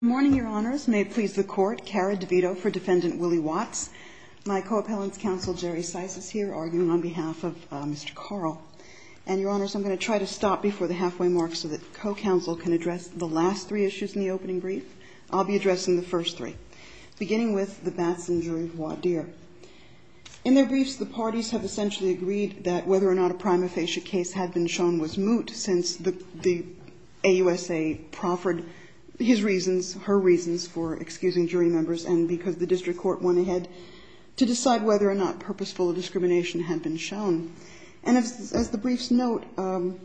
Good morning, Your Honors. May it please the Court, Cara DeVito for Defendant Willie Watts. My co-appellant's counsel Jerry Sisis here arguing on behalf of Mr. Karl. And, Your Honors, I'm going to try to stop before the halfway mark so that the co-counsel can address the last three issues in the opening brief. I'll be addressing the first three, beginning with the Batson jury of Wadeer. In their briefs, the parties have essentially agreed that whether or not a prima facie case had been shown was moot since the AUSA proffered his reasons for excusing jury members and because the district court went ahead to decide whether or not purposeful discrimination had been shown. And as the briefs note,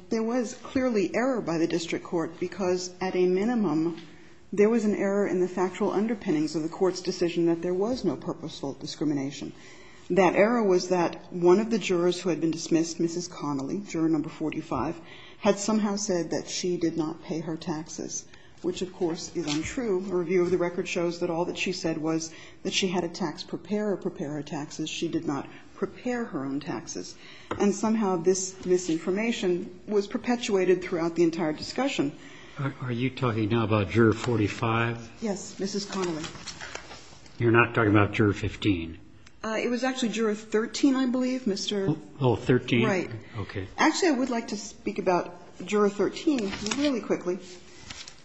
there was clearly error by the district court because at a minimum there was an error in the factual underpinnings of the court's decision that there was no purposeful discrimination. That error was that one of the jurors who had been dismissed, Mrs. Connolly, juror number 45, had somehow said that she did not pay her taxes, which, of course, is untrue. A review of the record shows that all that she said was that she had a tax preparer prepare her taxes. She did not prepare her own taxes. And somehow this misinformation was perpetuated throughout the entire discussion. Are you talking now about juror 45? Yes, Mrs. Connolly. You're not talking about juror 15? It was actually juror 13, I believe, Mr. Oh, 13. Right. Okay. Actually, I would like to speak about juror 13 really quickly.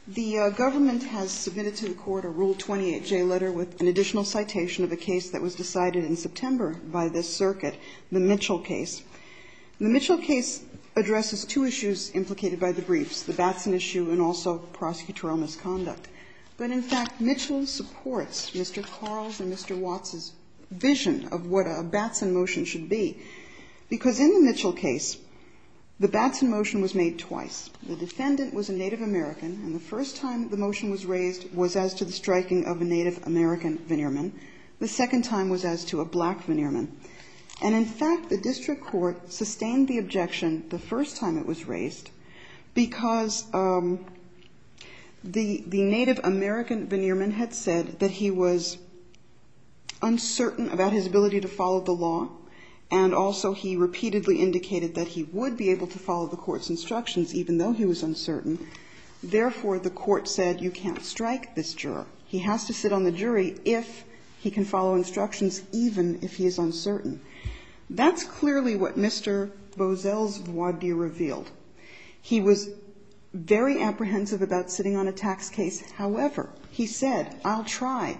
The government has submitted to the Court a Rule 28J letter with an additional citation of a case that was decided in September by this circuit, the Mitchell case. The Mitchell case addresses two issues implicated by the briefs, the Batson issue and also prosecutorial misconduct. But in fact, Mitchell supports Mr. Carl and Mr. Watts' vision of what The Batson motion was made twice. The defendant was a Native American, and the first time the motion was raised was as to the striking of a Native American veneerman. The second time was as to a black veneerman. And in fact, the district court sustained the objection the first time it was raised because the Native American veneerman had said that he was uncertain about his ability to follow the law, and also he repeatedly indicated that he would be able to follow the Court's instructions even though he was uncertain. Therefore, the Court said you can't strike this juror. He has to sit on the jury if he can follow instructions, even if he is uncertain. That's clearly what Mr. Boesel's voir dire revealed. He was very apprehensive about sitting on a tax case. However, he said, I'll try.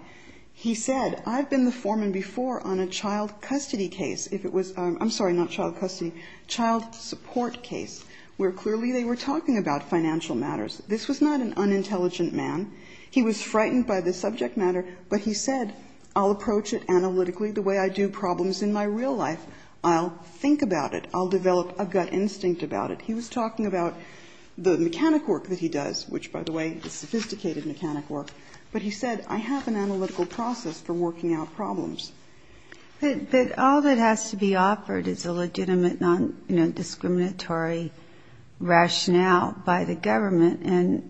He said, I've been the foreman before on a child custody case, if it was, I'm sorry, not child custody, child support case, where clearly they were talking about financial matters. This was not an unintelligent man. He was frightened by the subject matter, but he said, I'll approach it analytically the way I do problems in my real life. I'll think about it. I'll develop a gut instinct about it. He was talking about the mechanic work that he does, which, by the way, is sophisticated mechanic work. But he said, I have an analytical process for working out problems. But all that has to be offered is a legitimate, non-discriminatory rationale by the government, and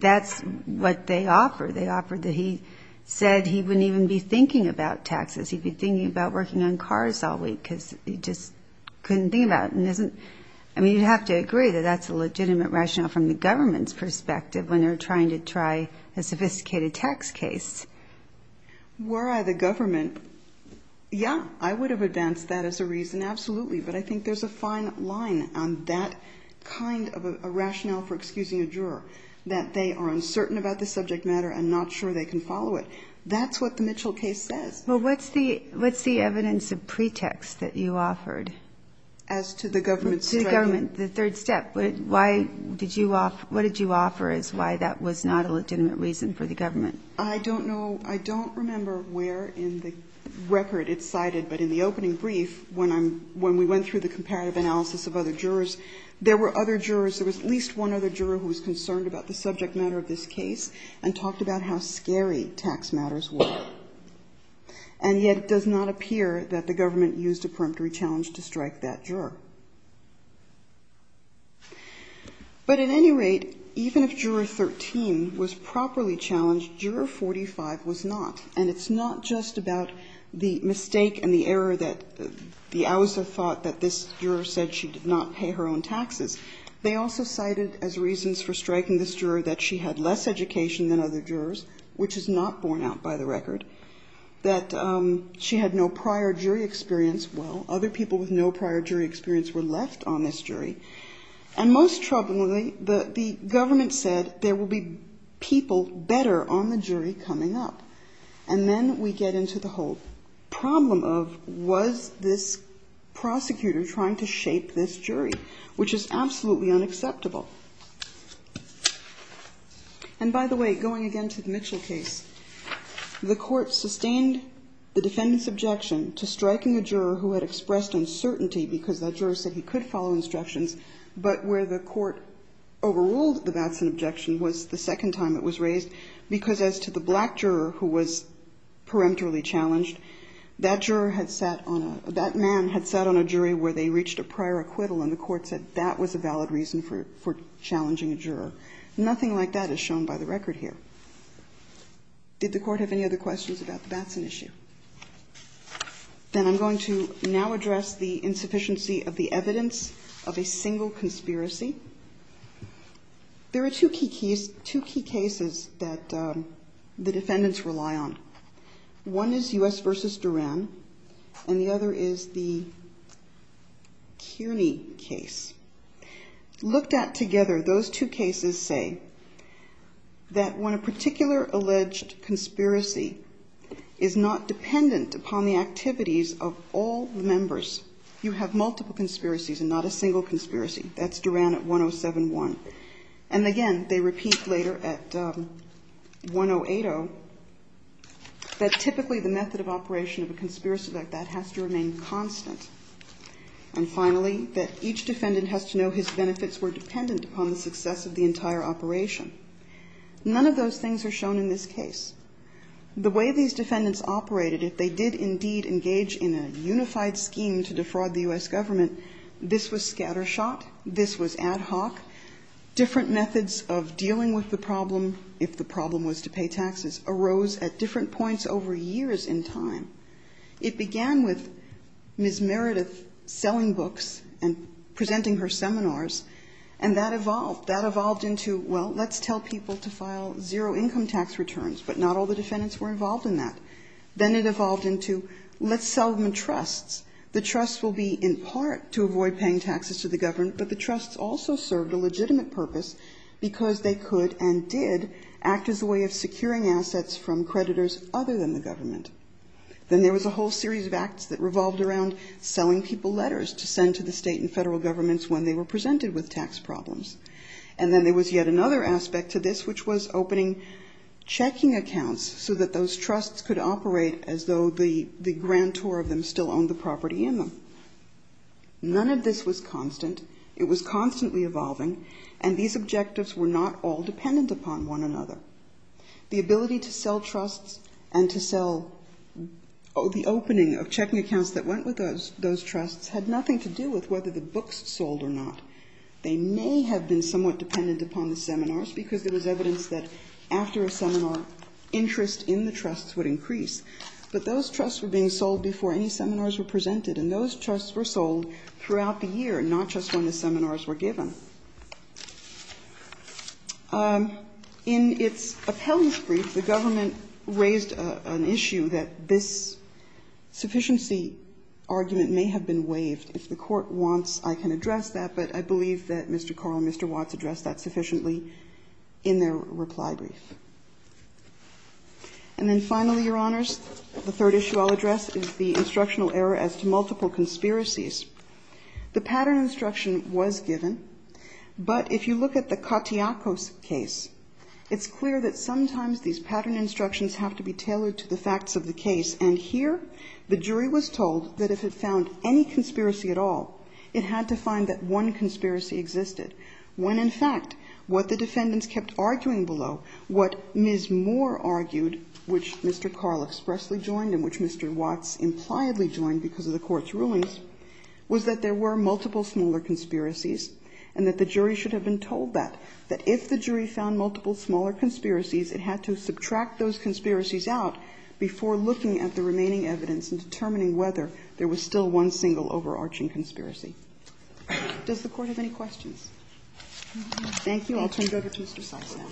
that's what they offer. They offer that he said he wouldn't even be thinking about taxes. He'd be thinking about working on cars all week because he just couldn't think about it. And isn't – I mean, you'd have to agree that that's a legitimate rationale from the government's perspective when they're trying to try a sophisticated tax case. Were I the government, yeah, I would have advanced that as a reason, absolutely. But I think there's a fine line on that kind of a rationale for excusing a juror, that they are uncertain about the subject matter and not sure they can follow it. That's what the Mitchell case says. Well, what's the evidence of pretext that you offered? As to the government's strategy? The government, the third step. Why did you – what did you offer as why that was not a legitimate reason for the government? I don't know – I don't remember where in the record it's cited, but in the opening brief, when I'm – when we went through the comparative analysis of other jurors, there were other jurors – there was at least one other juror who was concerned about the subject matter of this case and talked about how scary tax matters were. And yet it does not appear that the government used a But at any rate, even if Juror 13 was properly challenged, Juror 45 was not. And it's not just about the mistake and the error that the OUS have thought that this juror said she did not pay her own taxes. They also cited as reasons for striking this juror that she had less education than other jurors, which is not borne out by the record, that she had no prior jury experience. Well, other people with no prior jury experience were left on this jury. And most troublingly, the government said there will be people better on the jury coming up. And then we get into the whole problem of was this prosecutor trying to shape this jury, which is absolutely unacceptable. And by the way, going again to the Mitchell case, the court sustained the juror who had expressed uncertainty because that juror said he could follow instructions, but where the court overruled the Batson objection was the second time it was raised because as to the black juror who was peremptorily challenged, that juror had sat on a – that man had sat on a jury where they reached a prior acquittal and the court said that was a valid reason for challenging a juror. Nothing like that is shown by the record here. Did the court have any other questions about the Batson issue? Then I'm going to now address the insufficiency of the evidence of a single conspiracy. There are two key cases that the defendants rely on. One is U.S. v. Duran, and the other is the Kearney case. Looked at together, those two cases say that the defense believes that when a particular alleged conspiracy is not dependent upon the activities of all the members, you have multiple conspiracies and not a single conspiracy. That's Duran at 107-1. And again, they repeat later at 108-0 that typically the method of operation of a conspiracy like that has to remain constant. And finally, that each defendant has to know his benefits were dependent upon the success of the entire operation. None of those things are shown in this case. The way these defendants operated, if they did indeed engage in a unified scheme to defraud the U.S. government, this was scattershot, this was ad hoc. Different methods of dealing with the problem, if the problem was to pay taxes, arose at different points over years in time. It began with Ms. Meredith selling books and presenting her seminars, and that evolved. That evolved into, well, let's tell people to file zero-income tax returns, but not all the defendants were involved in that. Then it evolved into, let's sell them trusts. The trusts will be, in part, to avoid paying taxes to the government, but the trusts also served a legitimate purpose because they could and did act as a way of securing assets from creditors other than the tax problems. And then there was yet another aspect to this, which was opening checking accounts so that those trusts could operate as though the grantor of them still owned the property in them. None of this was constant. It was constantly evolving, and these objectives were not all dependent upon one another. The ability to sell trusts and to sell the opening of checking accounts that went with those trusts had nothing to do with whether the books sold or not. They may have been somewhat dependent upon the seminars because there was evidence that after a seminar, interest in the trusts would increase. But those trusts were being sold before any seminars were presented, and those trusts were sold throughout the year, not just when the seminars were given. In its appellate brief, the government raised an issue that this sufficiency argument may have been waived. If the Court wants, I can address that, but I believe that Mr. Carr and Mr. Watts addressed that sufficiently in their reply brief. And then finally, Your Honors, the third issue I'll address is the instructional error as to multiple conspiracies. The pattern instruction was given, but if you look at the Katiakos case, it's clear that sometimes these pattern instructions have to be tailored to the facts of the case. And here the jury was told that if it found any conspiracy at all, it had to find that one conspiracy existed, when in fact what the defendants kept arguing below, what Ms. Moore argued, which Mr. Carr expressly joined and which Mr. Watts impliedly joined because of the Court's rulings, was that there were multiple smaller conspiracies, and that the jury should have been told that, that if the jury found multiple smaller conspiracies, it had to subtract those conspiracies out before looking at the remaining evidence and determining whether there was still one single overarching conspiracy. Does the Court have any questions? Thank you. I'll turn it over to Mr. Sais now.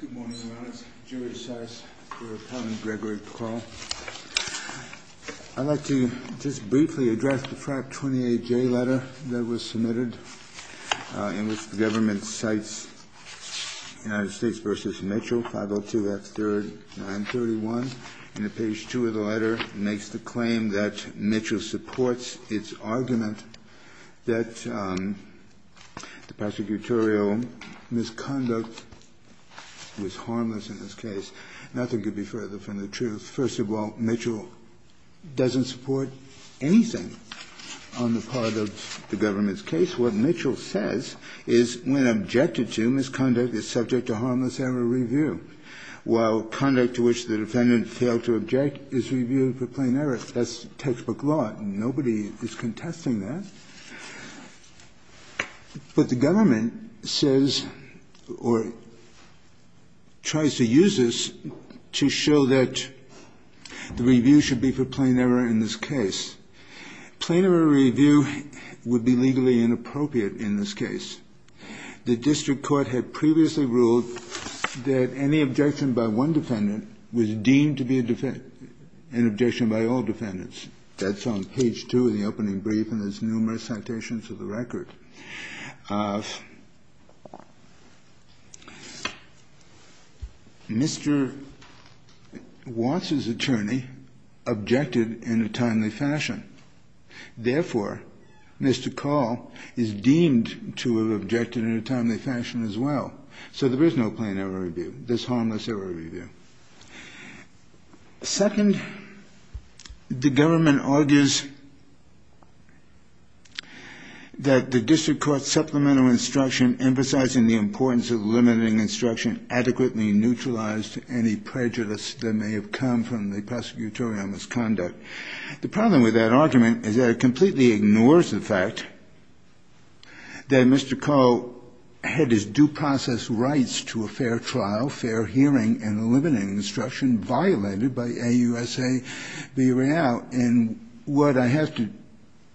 Good morning, Your Honors. Jerry Sais for Appellant Gregory McCall. I'd like to just briefly address the FRAC 28J letter that was submitted, in which the government cites United States v. Mitchell, 502 F. 3rd, 931. And at page 2 of the letter, it makes the claim that Mitchell supports its argument that the prosecutorial misconduct was harmless in this case. Nothing could be further from the truth. First of all, Mitchell doesn't support anything on the part of the government's case. What Mitchell says is when objected to, misconduct is subject to harmless error review, while conduct to which the defendant failed to object is reviewed for plain error. That's textbook law. Nobody is contesting that. But the government says or tries to use this to show that the review should be for plain error in this case. Plain error review would be legally inappropriate in this case. The district court had previously ruled that any objection by one defendant was deemed to be an objection by all defendants. That's on page 2 of the opening brief, and there's numerous citations to the record. Mr. Watts's attorney objected in a timely fashion. Therefore, Mr. Call is deemed to have objected in a timely fashion as well. So there is no plain error review. There's harmless error review. Second, the government argues that the district court's supplemental instruction emphasizing the importance of limiting instruction adequately neutralized any prejudice that may have come from the prosecutorial misconduct. The problem with that argument is that it completely ignores the fact that Mr. Call had his due process rights to a fair trial, fair hearing, and limiting instruction violated by AUSA v. Real. And what I have to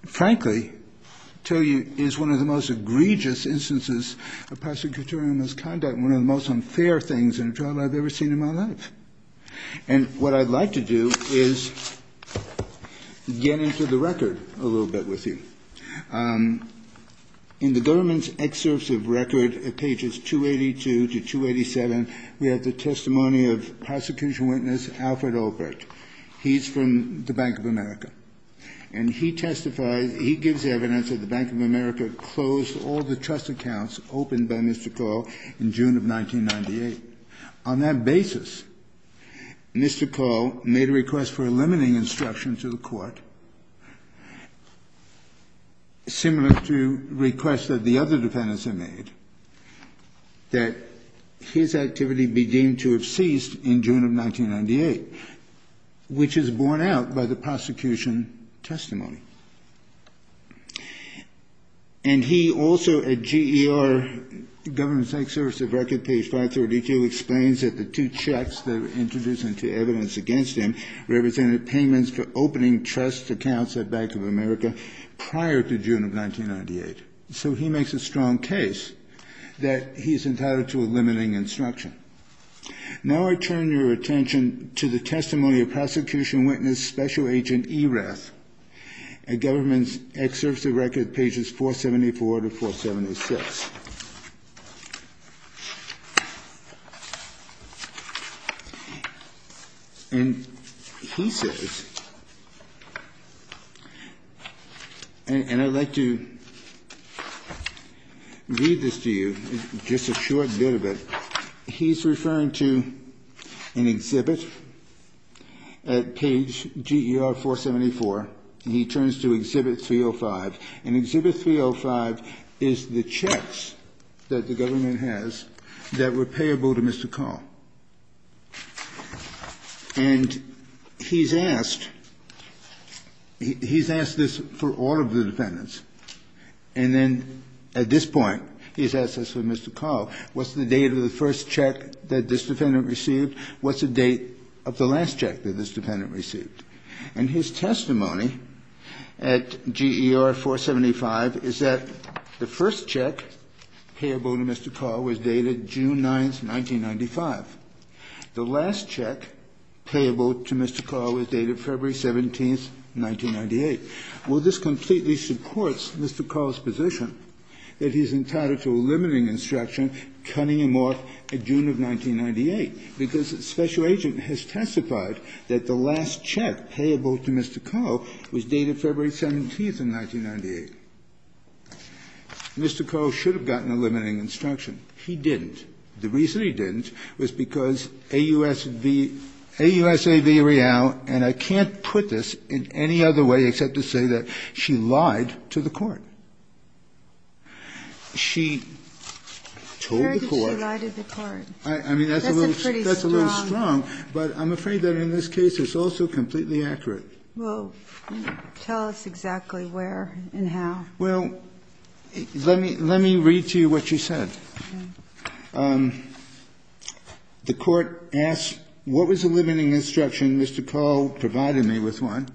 frankly tell you is one of the most egregious instances of prosecutorial misconduct, one of the most unfair things in a trial I've ever seen in my life. And what I'd like to do is get into the record a little bit with you. In the government's excerpts of record at pages 282 to 287, we have the testimony of prosecution witness Alfred Albrecht. He's from the Bank of America. And he testifies, he gives evidence that the Bank of America closed all the trust accounts opened by Mr. Call in June of 1998. On that basis, Mr. Call made a request for a limiting instruction to the court. Similar to requests that the other defendants had made, that his activity be deemed to have ceased in June of 1998, which is borne out by the prosecution testimony. And he also, at GER, government's excerpts of record, page 532, explains that the two checks that were introduced into evidence against him represented payments for opening trust accounts at Bank of America prior to June of 1998. So he makes a strong case that he's entitled to a limiting instruction. Now I turn your attention to the testimony of prosecution witness Special Agent Ereth at government's excerpts of record, pages 474 to 476. And he says, and I'd like to read this to you, just a short bit of it. He's referring to an exhibit at page GER 474, and he turns to exhibit 305. And exhibit 305 is the checks that the government has that were payable to Mr. Call. And he's asked, he's asked this for all of the defendants. And then at this point, he's asked this for Mr. Call. What's the date of the first check that this defendant received? What's the date of the last check that this defendant received? And his testimony at GER 475 is that the first check payable to Mr. Call was dated June 9th, 1995. The last check payable to Mr. Call was dated February 17th, 1998. Well, this completely supports Mr. Call's position that he's entitled to a limiting instruction cutting him off at June of 1998, because Special Agent has testified that the last check payable to Mr. Call was dated February 17th, 1998. Mr. Call should have gotten a limiting instruction. He didn't. The reason he didn't was because AUSV, AUSA V. Real, and I can't put this in any other way except to say that she lied to the court. She told the court. Kagan. That's a pretty strong. But I'm afraid that in this case it's also completely accurate. Well, tell us exactly where and how. Well, let me read to you what she said. Okay. The court asked, what was the limiting instruction? Mr. Call provided me with one.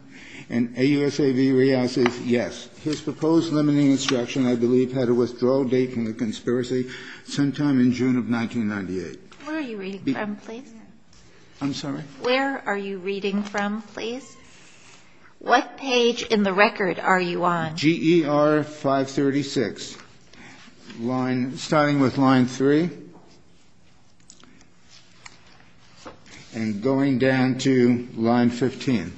And AUSA V. Real says yes. His proposed limiting instruction, I believe, had a withdrawal date from the conspiracy sometime in June of 1998. Where are you reading from, please? I'm sorry? Where are you reading from, please? What page in the record are you on? GER 536, starting with line 3 and going down to line 15.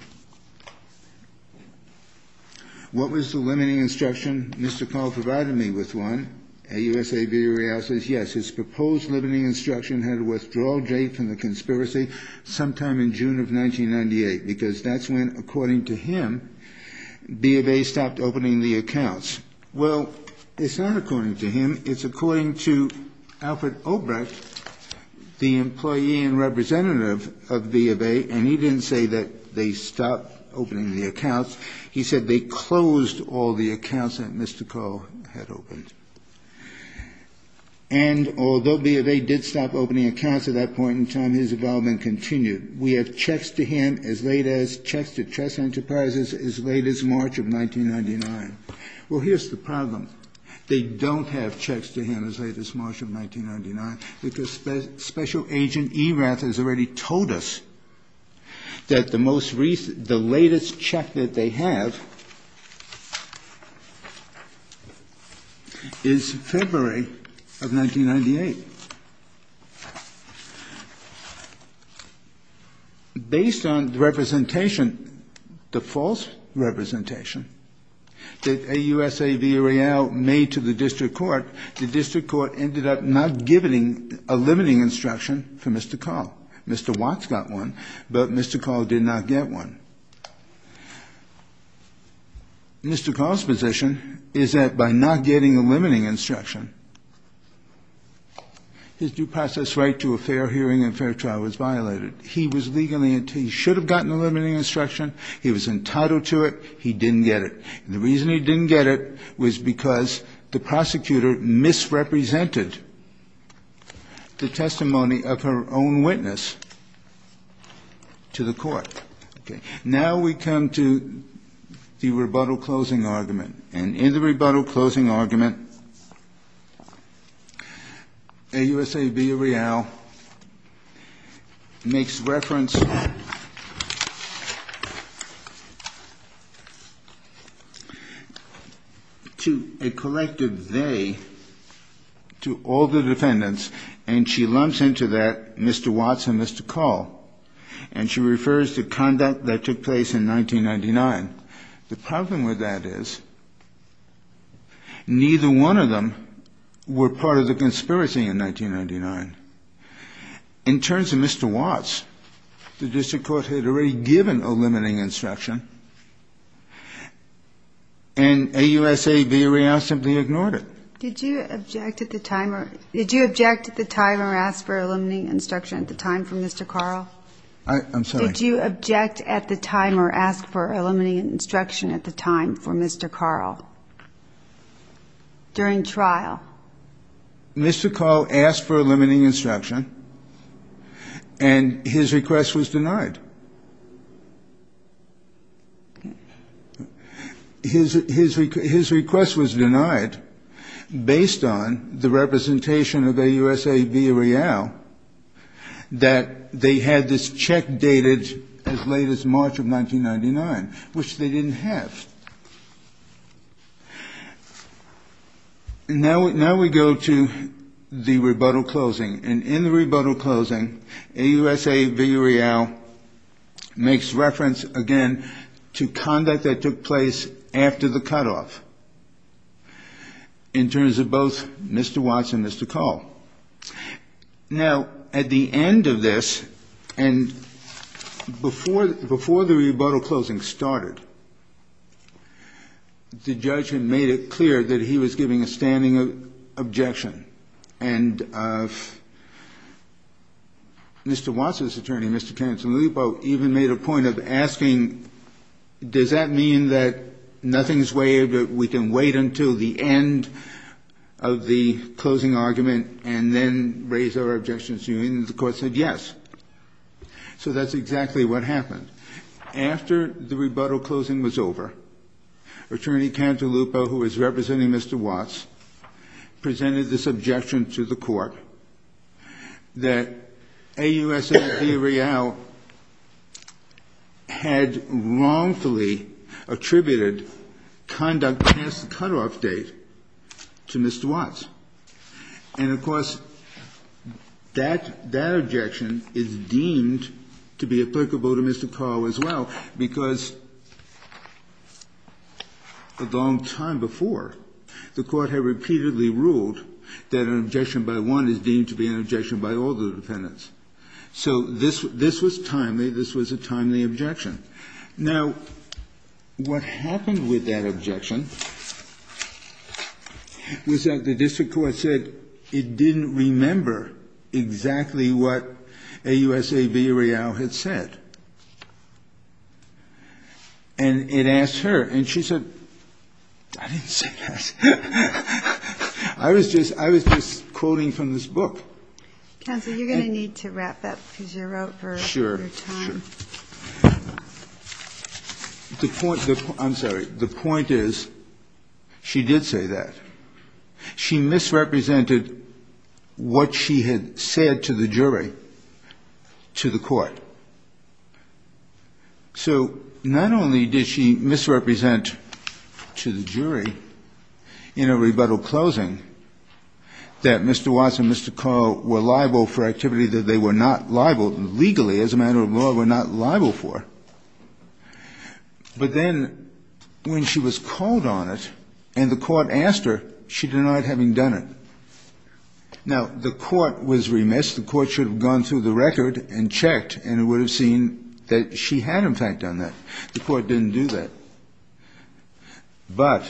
What was the limiting instruction? Mr. Call provided me with one. AUSA V. Real says yes. His proposed limiting instruction had a withdrawal date from the conspiracy sometime in June of 1998. Because that's when, according to him, B of A stopped opening the accounts. Well, it's not according to him. It's according to Alfred Obrecht, the employee and representative of B of A. And he didn't say that they stopped opening the accounts. He said they closed all the accounts that Mr. Call had opened. And although B of A did stop opening accounts at that point in time, his involvement continued. We have checks to him as late as checks to chess enterprises as late as March of 1999. Well, here's the problem. They don't have checks to him as late as March of 1999, because Special Agent Erath has already told us that the most recent, the latest check that they have is February of 1998. Based on the representation, the false representation that AUSA V. Real made to the district court, the district court ended up not giving a limiting instruction for Mr. Call. Mr. Watts got one, but Mr. Call did not get one. Mr. Call's position is that by not getting a limiting instruction, his due process right to a fair hearing and fair trial was violated. He was legally entitled. He should have gotten a limiting instruction. He was entitled to it. He didn't get it. And the reason he didn't get it was because the prosecutor misrepresented the testimony of her own witness to the court. Okay. Now we come to the rebuttal closing argument. And in the rebuttal closing argument, AUSA V. Real makes reference to a collective they to all the defendants, and she lumps into that Mr. Watts and Mr. Call. And she refers to conduct that took place in 1999. The problem with that is neither one of them were part of the conspiracy in 1999. In terms of Mr. Watts, the district court had already given a limiting instruction, and AUSA V. Real simply ignored it. Did you object at the time or ask for a limiting instruction at the time from Mr. Call? I'm sorry. Did you object at the time or ask for a limiting instruction at the time for Mr. Call during trial? Mr. Call asked for a limiting instruction, and his request was denied. Okay. His request was denied based on the representation of AUSA V. Real that they had this check dated as late as March of 1999, which they didn't have. Now we go to the rebuttal closing. And in the rebuttal closing, AUSA V. Real makes reference again to conduct that took place after the cutoff in terms of both Mr. Watts and Mr. Call. Now, at the end of this, and before the rebuttal closing started, the judge had made it clear that he was giving a standing objection. And Mr. Watts' attorney, Mr. Tanninson-Lippo, even made a point of asking, does that mean that nothing is waived, that we can wait until the end of the closing argument and then raise our objections? And the court said yes. So that's exactly what happened. After the rebuttal closing was over, attorney Tanninson-Lippo, who was representing Mr. Watts, presented this objection to the court that AUSA V. Real had wrongfully attributed conduct past the cutoff date to Mr. Watts. And, of course, that objection is deemed to be applicable to Mr. Call as well because a long time before, the Court had repeatedly ruled that an objection by one is deemed to be an objection by all the defendants. So this was timely. This was a timely objection. Now, what happened with that objection was that the district court said it didn't remember exactly what AUSA V. Real had said. And it asked her, and she said, I didn't say that. I was just quoting from this book. Counsel, you're going to need to wrap up because you're out for your time. Sure, sure. I'm sorry. The point is, she did say that. She misrepresented what she had said to the jury, to the court. So not only did she misrepresent to the jury in a rebuttal closing that Mr. Watts and Mr. Call were liable for activity that they were not liable legally, as a matter of law, were not liable for, but then when she was called on it and the court asked her, she denied having done it. Now, the court was remiss. The court should have gone through the record and checked, and it would have seen that she had, in fact, done that. The court didn't do that. But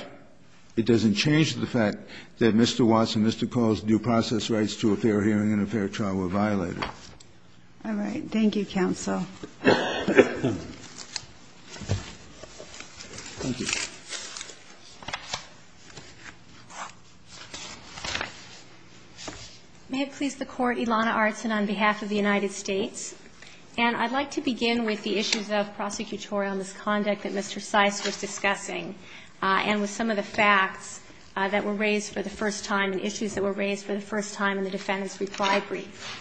it doesn't change the fact that Mr. Watts and Mr. Call's due process rights to a fair hearing and a fair trial were violated. All right. Thank you, counsel. Thank you. May it please the Court. Ilana Artsin on behalf of the United States. And I'd like to begin with the issues of prosecutorial misconduct that Mr. Cice was discussing and with some of the facts that were raised for the first time and issues that were raised for the first time in the defendant's reply brief.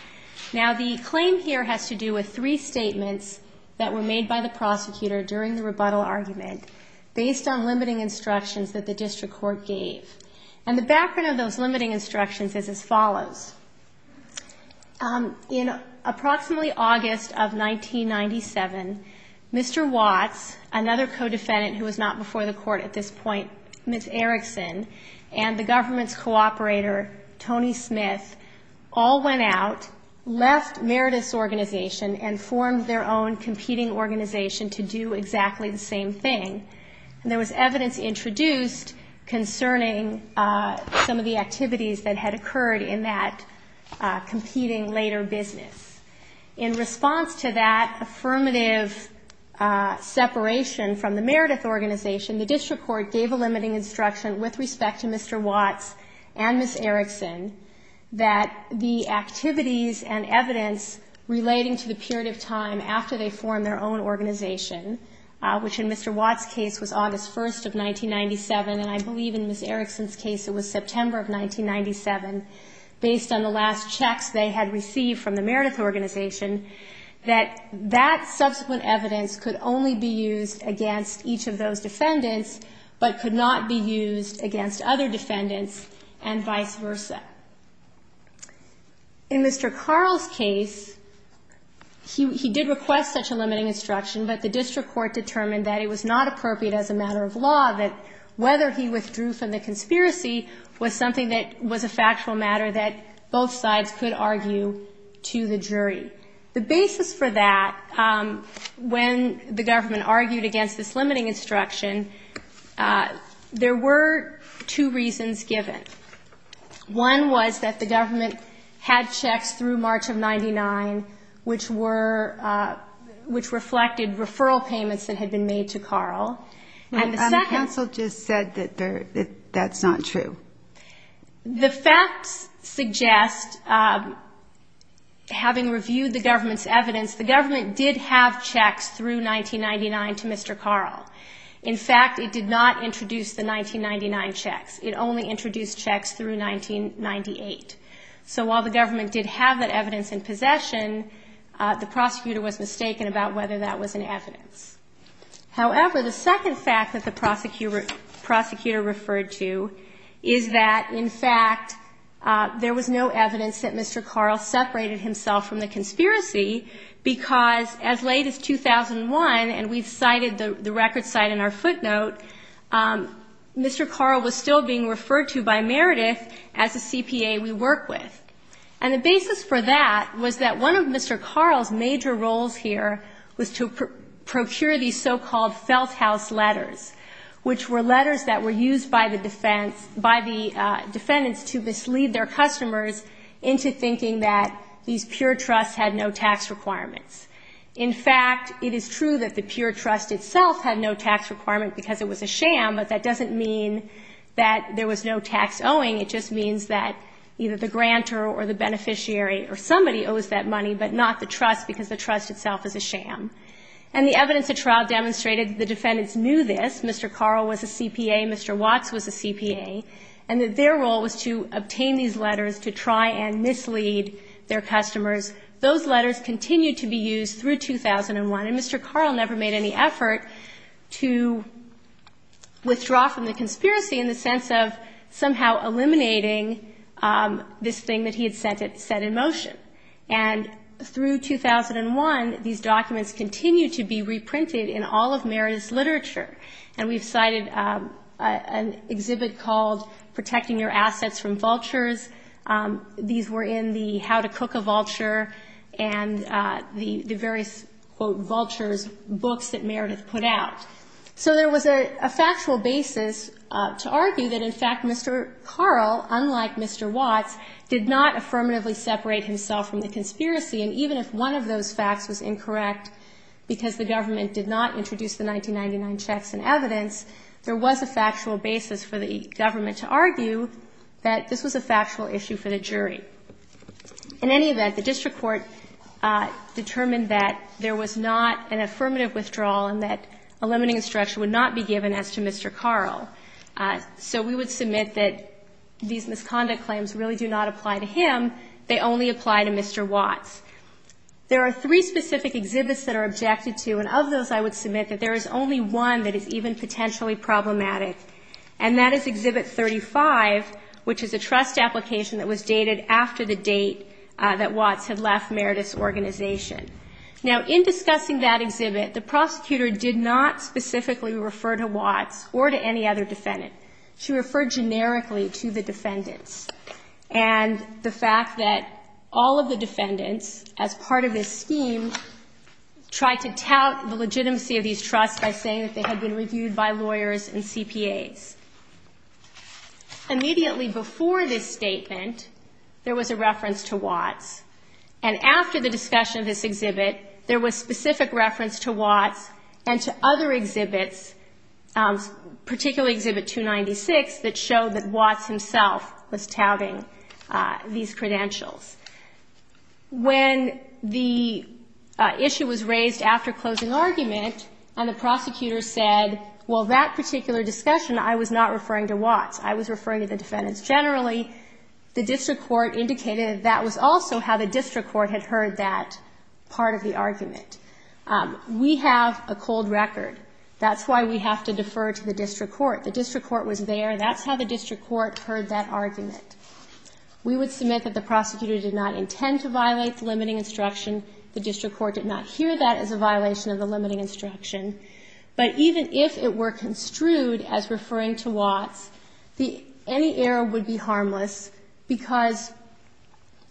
Now, the claim here has to do with three statements that were made by the prosecutor during the rebuttal argument based on limiting instructions that the district court gave. And the background of those limiting instructions is as follows. In approximately August of 1997, Mr. Watts, another co-defendant who was not before the court at this point, Ms. Erickson, and the government's cooperator, Tony Smith, all went out, left Meredith's organization, and formed their own competing organization to do exactly the same thing. And there was evidence introduced concerning some of the activities that had occurred in that competing later business. In response to that affirmative separation from the Meredith organization, the district court gave a limiting instruction with respect to Mr. Watts and Ms. Erickson that the activities and evidence relating to the period of time after they formed their own organization, which in Mr. Watts' case was August 1st of 1997, and I believe in Ms. Erickson's case it was September of 1997, based on the last checks they had received from the Meredith organization, that that subsequent evidence could only be used against each of those defendants, but could not be used against other defendants, and vice versa. In Mr. Carl's case, he did request such a limiting instruction, but the district court determined that it was not appropriate as a matter of law that whether he withdrew from the conspiracy was something that was a factual matter that both sides could argue to the jury. The basis for that, when the government argued against this limiting instruction, there were two reasons given. One was that the government had checks through March of 99, which reflected referral payments that had been made to Carl. And the second... The facts suggest, having reviewed the government's evidence, the government did have checks through 1999 to Mr. Carl. In fact, it did not introduce the 1999 checks. It only introduced checks through 1998. So while the government did have that evidence in possession, the prosecutor was mistaken about whether that was in evidence. However, the second fact that the prosecutor referred to is that, in fact, there was no evidence that Mr. Carl separated himself from the conspiracy, because as late as 2001, and we've cited the record site in our footnote, Mr. Carl was still being referred to by Meredith as a CPA we work with. And the basis for that was that one of Mr. Carl's major roles here was to procure these so-called felt-house letters, which were letters that were used by the defendants to mislead their customers into thinking that these pure trusts had no tax requirements. In fact, it is true that the pure trust itself had no tax requirement because it was a sham, but that doesn't mean that there was no tax owing. It just means that either the grantor or the beneficiary or somebody owes that money, but not the trust, because the trust itself is a sham. And the evidence at trial demonstrated that the defendants knew this, Mr. Carl was a CPA, Mr. Watts was a CPA, and that their role was to obtain these letters to try and mislead their customers. Those letters continued to be used through 2001, and Mr. Carl never made any effort to, well, withdraw from the conspiracy in the sense of somehow eliminating this thing that he had set in motion. And through 2001, these documents continued to be reprinted in all of Meredith's literature. And we've cited an exhibit called Protecting Your Assets from Vultures. These were in the How to Cook a Vulture and the various, quote, vultures books that Meredith put out. So there was a factual basis to argue that, in fact, Mr. Carl, unlike Mr. Watts, did not affirmatively separate himself from the conspiracy. And even if one of those facts was incorrect because the government did not introduce the 1999 checks and evidence, there was a factual basis for the government to argue that this was a factual issue for the jury. In any event, the district court determined that there was not an affirmative withdrawal and that a limiting instruction would not be given as to Mr. Carl. So we would submit that these misconduct claims really do not apply to him. They only apply to Mr. Watts. There are three specific exhibits that are objected to, and of those I would submit that there is only one that is even potentially problematic, and that is Exhibit 35, which is a trust application that was dated after the date that Watts had left Meredith's organization. Now, in discussing that exhibit, the prosecutor did not specifically refer to Watts or to any other defendant. She referred generically to the defendants and the fact that all of the defendants, as part of this scheme, tried to tout the legitimacy of these trusts by saying that they had been reviewed by lawyers and CPAs. Immediately before this statement, there was a reference to Watts, and after the discussion of this exhibit, there was specific reference to Watts and to other exhibits, particularly Exhibit 296, that showed that Watts himself was touting these credentials. When the issue was raised after closing argument and the prosecutor said, well, that particular discussion, I was not referring to Watts, I was referring to the defendants generally, the district court indicated that was also how the district court had heard that part of the argument. We have a cold record. That's why we have to defer to the district court. The district court was there. That's how the district court heard that argument. We would submit that the prosecutor did not intend to violate the limiting instruction. The district court did not hear that as a violation of the limiting instruction. But even if it were construed as referring to Watts, any error would be harmless, because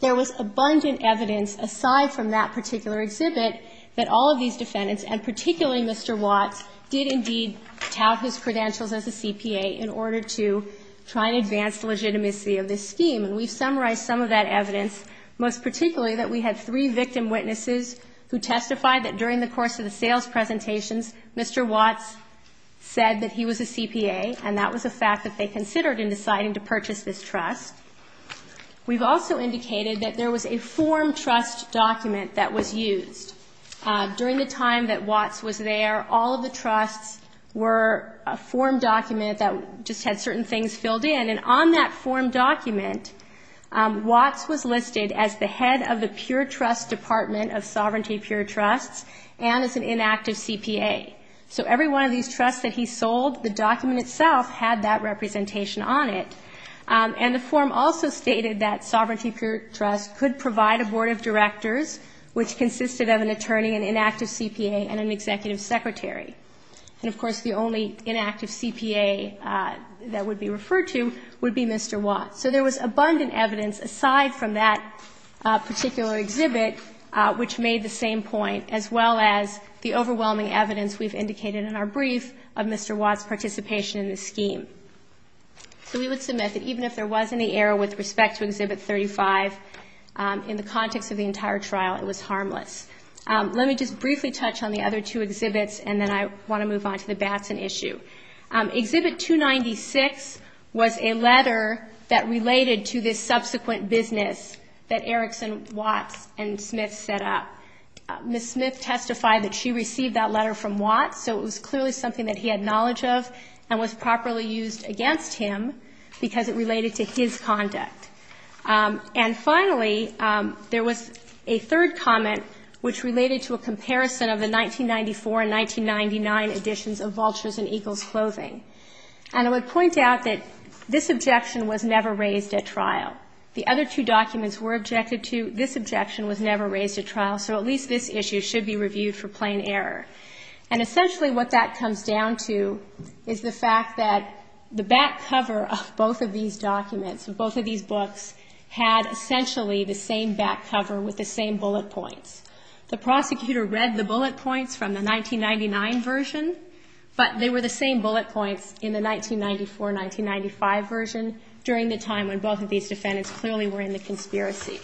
there was abundant evidence, aside from that particular exhibit, that all of these defendants, and particularly Mr. Watts, did indeed tout his credentials as a CPA in order to try and advance the legitimacy of this scheme. And we've summarized some of that evidence, most particularly that we had three victim witnesses who testified that during the course of the sales presentations, Mr. Watts said that he was a CPA, and that was a fact that they considered in deciding to purchase this trust. We've also indicated that there was a form trust document that was used. During the time that Watts was there, all of the trusts were a form document that just had certain things filled in. And on that form document, Watts was listed as the head of the pure trust department of Sovereignty Pure Trusts, and as an inactive CPA. So every one of these trusts that he sold, the document itself, had that representation on it. And the form also stated that Sovereignty Pure Trusts could provide a board of directors, which consisted of an attorney, an inactive CPA, and an executive secretary. And, of course, the only inactive CPA that would be referred to would be Mr. Watts. So there was abundant evidence, aside from that particular exhibit, which made the same point, as well as the overwhelming evidence we've indicated in our brief of Mr. Watts' participation in this scheme. So we would submit that even if there was any error with respect to Exhibit 35, in the context of the entire trial, it was harmless. Let me just briefly touch on the other two exhibits, and then I want to move on to the Batson issue. Exhibit 296 was a letter that related to this subsequent business that Erickson, Watts, and Smith set up. Ms. Smith testified that she received that letter from Watts, so it was clearly something that he had knowledge of, and was properly used against him because it related to his conduct. And finally, there was a third comment which related to a comparison of the 1994 and 1999 editions of Vultures and Eagles Clothing. And I would point out that this objection was never raised at trial. The other two documents were objected to. This objection was never raised at trial, so at least this issue should be reviewed for plain error. And essentially what that comes down to is the fact that the back cover of both of these documents, of both of these books, had essentially the same back cover with the same bullet points. The prosecutor read the bullet points from the 1999 version, but they were the same bullet points in the 1994-1995 version during the time when both of these defendants clearly were in the conspiracy.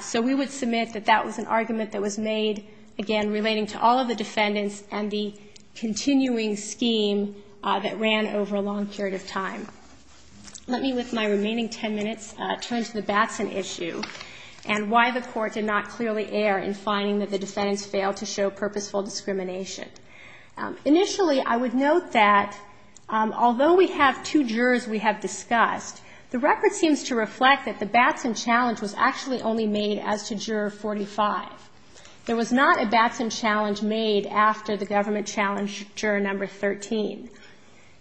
So we would submit that that was an argument that was made, again, relating to all of the defendants and the continuing scheme that ran over a long period of time. Let me, with my remaining ten minutes, turn to the Batson issue and why the Court did not clearly err in finding that the defendants failed to show purposeful discrimination. Initially, I would note that although we have two jurors we have discussed, the record seems to reflect that the Batson challenge was actually only made as to Juror 45. There was not a Batson challenge made after the government challenged Juror Number 13.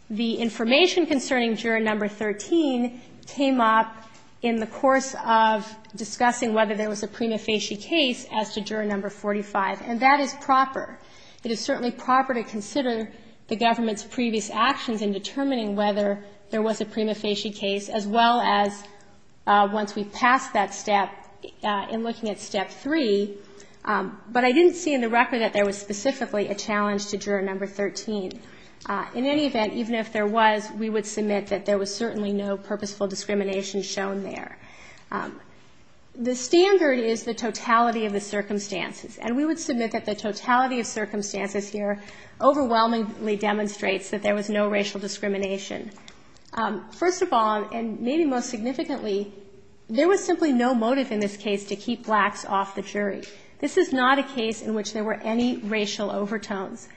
The information concerning Juror Number 13 came up in the course of discussing whether there was a prima facie case as to Juror Number 45, and that is proper. It is certainly proper to consider the government's previous actions in determining whether there was a prima facie case, as well as once we passed that step in looking at Step 3. But I didn't see in the record that there was specifically a challenge to Juror Number 13. In any event, even if there was, we would submit that there was certainly no purposeful discrimination shown there. The standard is the totality of the circumstances, and we would submit that the totality of circumstances here overwhelmingly demonstrates that there was no racial discrimination. First of all, and maybe most significantly, there was simply no motive in this case to keep blacks off the jury. This is not a case in which there were any racial overtones.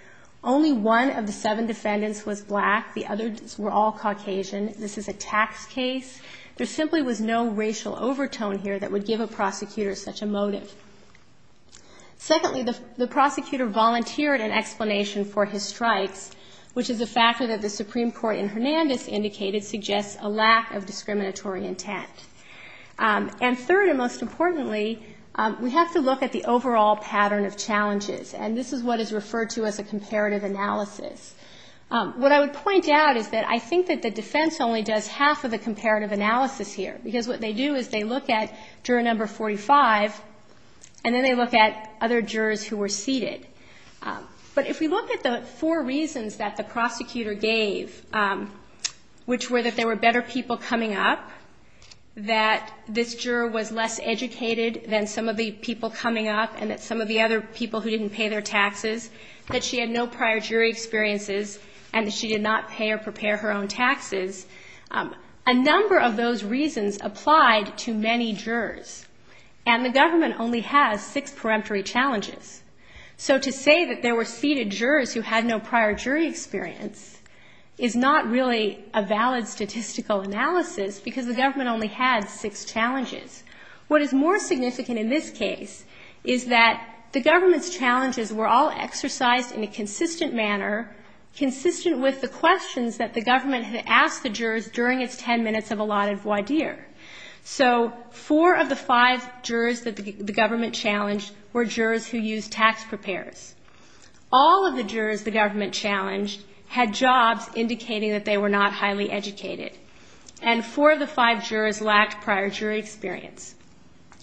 Only one of the seven defendants was black. The others were all Caucasian. This is a tax case. There simply was no racial overtone here that would give a prosecutor such a motive. Secondly, the prosecutor volunteered an explanation for his strikes, which is a factor that the Supreme Court in Hernandez indicated suggests a lack of discriminatory intent. And third and most importantly, we have to look at the overall pattern of challenges, and this is what is referred to as a comparative analysis. What I would point out is that I think that the defense only does half of the comparative analysis here, because what they do is they look at Juror Number 45, and then they look at other jurors who were seated. But if we look at the four reasons that the prosecutor gave, which were that there were better people coming up, that this juror was less educated than some of the people who didn't pay their taxes, that she had no prior jury experiences, and that she did not pay or prepare her own taxes, a number of those reasons applied to many jurors. And the government only has six peremptory challenges. So to say that there were seated jurors who had no prior jury experience is not really a valid statistical analysis, because the government only had six challenges. What is more significant in this case is that the government's challenges were all exercised in a consistent manner, consistent with the questions that the government had asked the jurors during its 10 minutes of allotted voir dire. So four of the five jurors that the government challenged were jurors who used tax prepares. All of the jurors the government challenged had jobs indicating that they were not highly educated, and four of the five jurors lacked prior jury experience.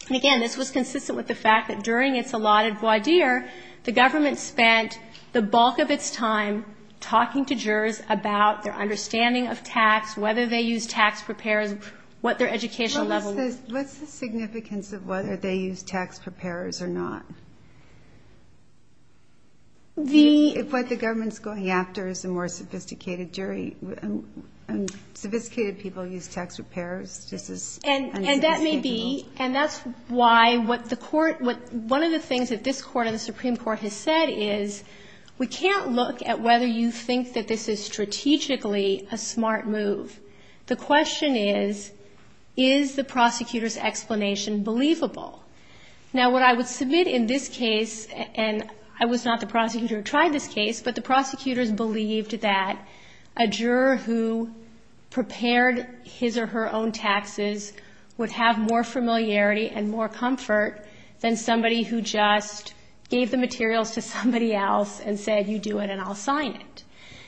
And again, this was consistent with the fact that during its allotted voir dire, the government spent the bulk of its time talking to jurors about their understanding of tax, whether they used tax prepares, what their educational level was. But what's the significance of whether they used tax prepares or not? What the government's going after is a more sophisticated jury. Sophisticated people use tax prepares. This is unsophisticated. And that may be. And that's why what the court, what one of the things that this court and the Supreme Court has said is we can't look at whether you think that this is strategically a smart move. The question is, is the prosecutor's explanation believable? Now, what I would submit in this case, and I was not the prosecutor who tried this case, but the prosecutors believed that a juror who prepared his or her own taxes would have more familiarity and more comfort than somebody who just gave the materials to somebody else and said, you do it and I'll sign it.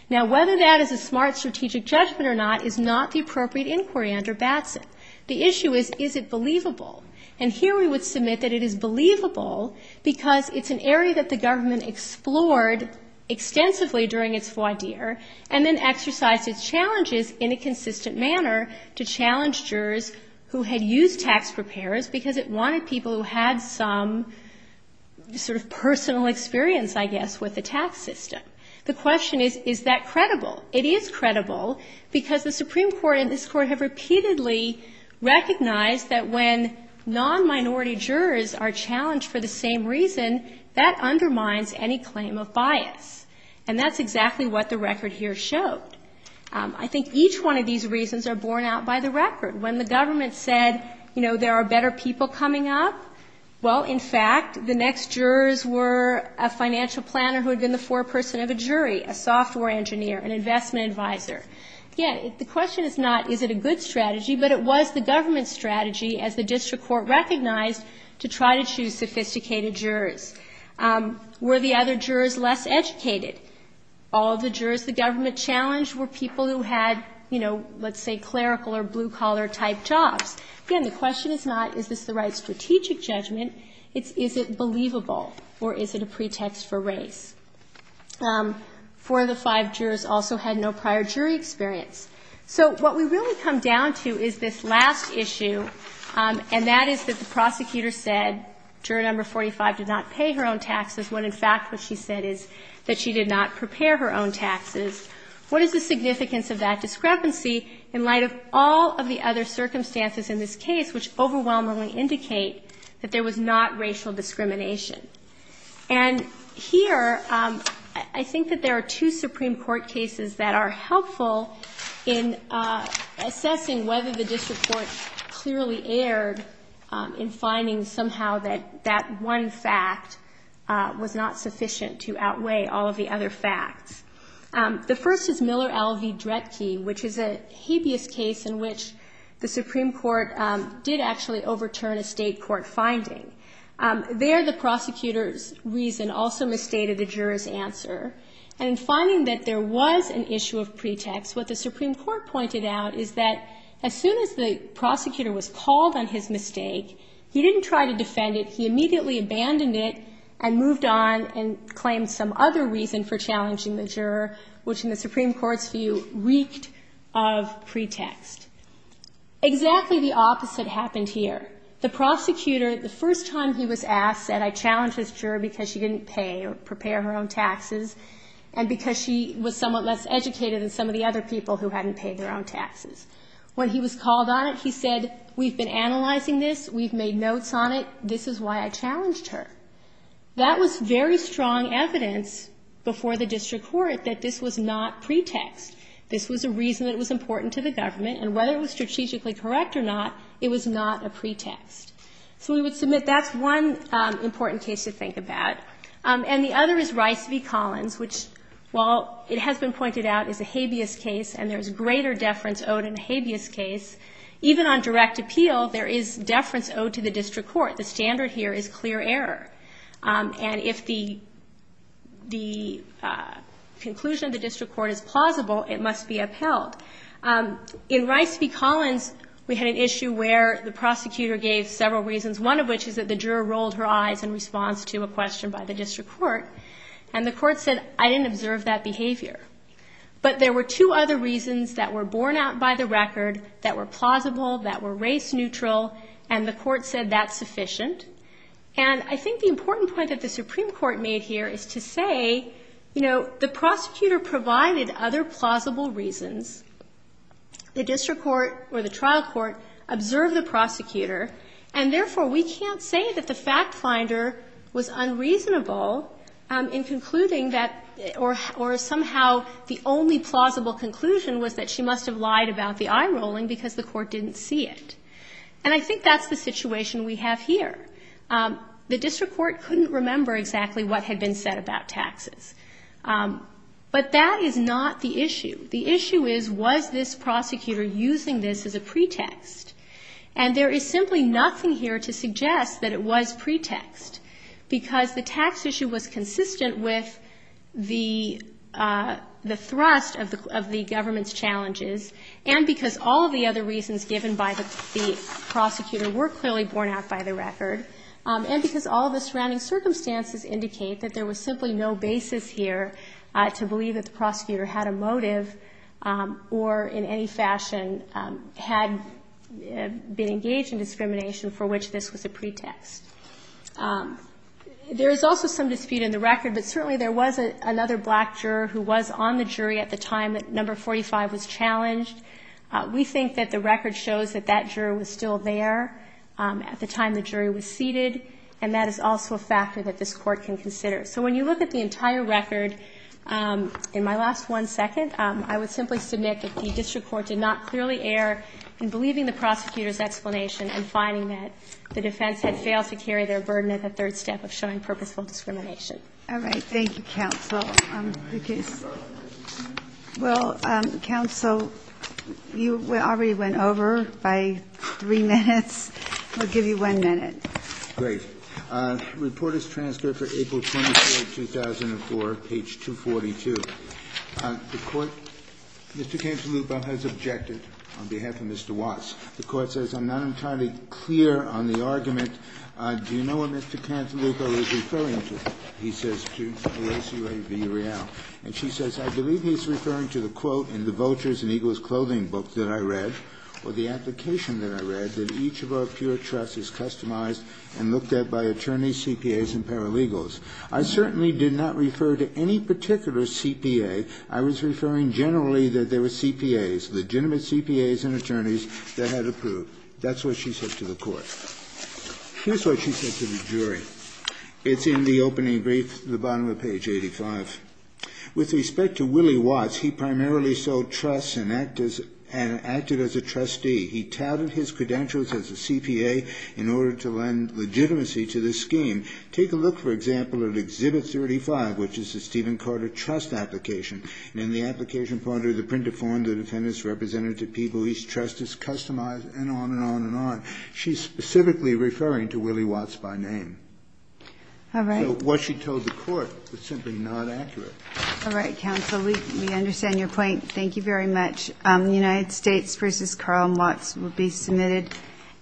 Now, whether that is a smart strategic judgment or not is not the appropriate inquiry under Batson. The issue is, is it believable? And here we would submit that it is believable because it's an area that the government explored extensively during its voir dire and then exercised its challenges in a consistent manner to challenge jurors who had used tax prepares because it wanted people who had some sort of personal experience, I guess, with the tax system. The question is, is that credible? It is credible because the Supreme Court and this Court have repeatedly recognized that when non-minority jurors are challenged for the same reason, that undermines any claim of bias. And that's exactly what the record here showed. I think each one of these reasons are borne out by the record. When the government said, you know, there are better people coming up, well, in fact, the next jurors were a financial planner who had been the foreperson of a jury, a software engineer, an investment advisor. Again, the question is not, is it a good strategy, but it was the government's strategy, as the district court recognized, to try to choose sophisticated jurors. Were the other jurors less educated? All of the jurors the government challenged were people who had, you know, let's say clerical or blue-collar-type jobs. Again, the question is not, is this the right strategic judgment, it's, is it believable or is it a pretext for race? Four of the five jurors also had no prior jury experience. So what we really come down to is this last issue, and that is that the prosecutor said, juror number 45 did not pay her own taxes, when, in fact, what she said is that she did not prepare her own taxes. What is the significance of that discrepancy in light of all of the other circumstances in this case which overwhelmingly indicate that there was not racial discrimination? And here, I think that there are two Supreme Court cases that are helpful in assessing whether the district court clearly erred in finding somehow that that one fact was not sufficient to outweigh all of the other facts. The first is Miller v. Dretke, which is a habeas case in which the Supreme Court did actually overturn a State court finding. There, the prosecutor's reason also misstated the juror's answer. And in finding that there was an issue of pretext, what the Supreme Court pointed out is that as soon as the prosecutor was called on his mistake, he didn't try to defend it. He immediately abandoned it and moved on and claimed some other reason for challenging the juror, which in the Supreme Court's view reeked of pretext. Exactly the opposite happened here. The prosecutor, the first time he was asked, said, I challenged this juror because she didn't pay or prepare her own taxes, and because she was somewhat less educated than some of the other people who hadn't paid their own taxes. When he was called on it, he said, we've been analyzing this, we've made notes on it, this is why I challenged her. That was very strong evidence before the district court that this was not pretext. This was a reason that was important to the government, and whether it was strategically correct or not, it was not a pretext. So we would submit that's one important case to think about. And the other is Rice v. Collins, which while it has been pointed out is a habeas case and there's greater deference owed in a habeas case, even on direct appeal, there is deference owed to the district court. The standard here is clear error. And if the conclusion of the district court is plausible, it must be upheld. In Rice v. Collins, we had an issue where the prosecutor gave several reasons, one of which is that the juror rolled her eyes in response to a question by the district court, and the court said, I didn't observe that behavior. But there were two other reasons that were borne out by the record that were plausible, that were race neutral, and the court said that's sufficient. And I think the important point that the Supreme Court made here is to say, you know, the prosecutor provided other plausible reasons. The district court or the trial court observed the prosecutor. And therefore, we can't say that the fact finder was unreasonable in concluding that or somehow the only plausible conclusion was that she must have lied about the eye rolling because the court didn't see it. And I think that's the situation we have here. The district court couldn't remember exactly what had been said about taxes. But that is not the issue. The issue is, was this prosecutor using this as a pretext? And there is simply nothing here to suggest that it was pretext, because the tax issue was consistent with the thrust of the government's challenges, and because all of the other reasons given by the prosecutor were clearly borne out by the record and because all of the surrounding circumstances indicate that there was simply no basis here to believe that the prosecutor had a motive or in any fashion had been engaged in discrimination for which this was a pretext. There is also some dispute in the record, but certainly there was another black juror who was on the jury at the time that number 45 was challenged. We think that the record shows that that juror was still there at the time the jury was seated, and that is also a factor that this Court can consider. So when you look at the entire record, in my last one second, I would simply submit that the district court did not clearly err in believing the prosecutor's explanation and finding that the defense had failed to carry their burden at the third step of showing purposeful discrimination. All right. Thank you, counsel. Well, counsel, you already went over by three minutes. We'll give you one minute. Great. Report is transferred for April 24, 2004, page 242. The Court, Mr. Cantalupo has objected on behalf of Mr. Watts. The Court says, I'm not entirely clear on the argument. Do you know what Mr. Cantalupo is referring to? He says, to the ACA v. Real. And she says, I believe he's referring to the quote in the Vultures and Eagles Clothing book that I read, or the application that I read, that each of our pure trusts is customized and looked at by attorneys, CPAs, and paralegals. I certainly did not refer to any particular CPA. I was referring generally that there were CPAs, legitimate CPAs and attorneys that had approved. That's what she said to the Court. Here's what she said to the jury. It's in the opening brief, the bottom of page 85. With respect to Willie Watts, he primarily sold trusts and acted as a trustee. He touted his credentials as a CPA in order to lend legitimacy to this scheme. Take a look, for example, at Exhibit 35, which is the Stephen Carter trust application. In the application, under the printed form, the defendants represented to people whose trust is customized, and on and on and on. She's specifically referring to Willie Watts by name. All right. So what she told the Court was simply not accurate. All right, counsel, we understand your point. Thank you very much. The United States v. Carl Watts will be submitted,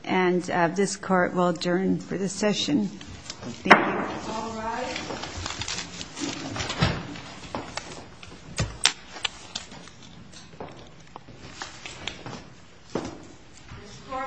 and this Court will adjourn for this session. Thank you. All rise. This Court, for this session, stands adjourned.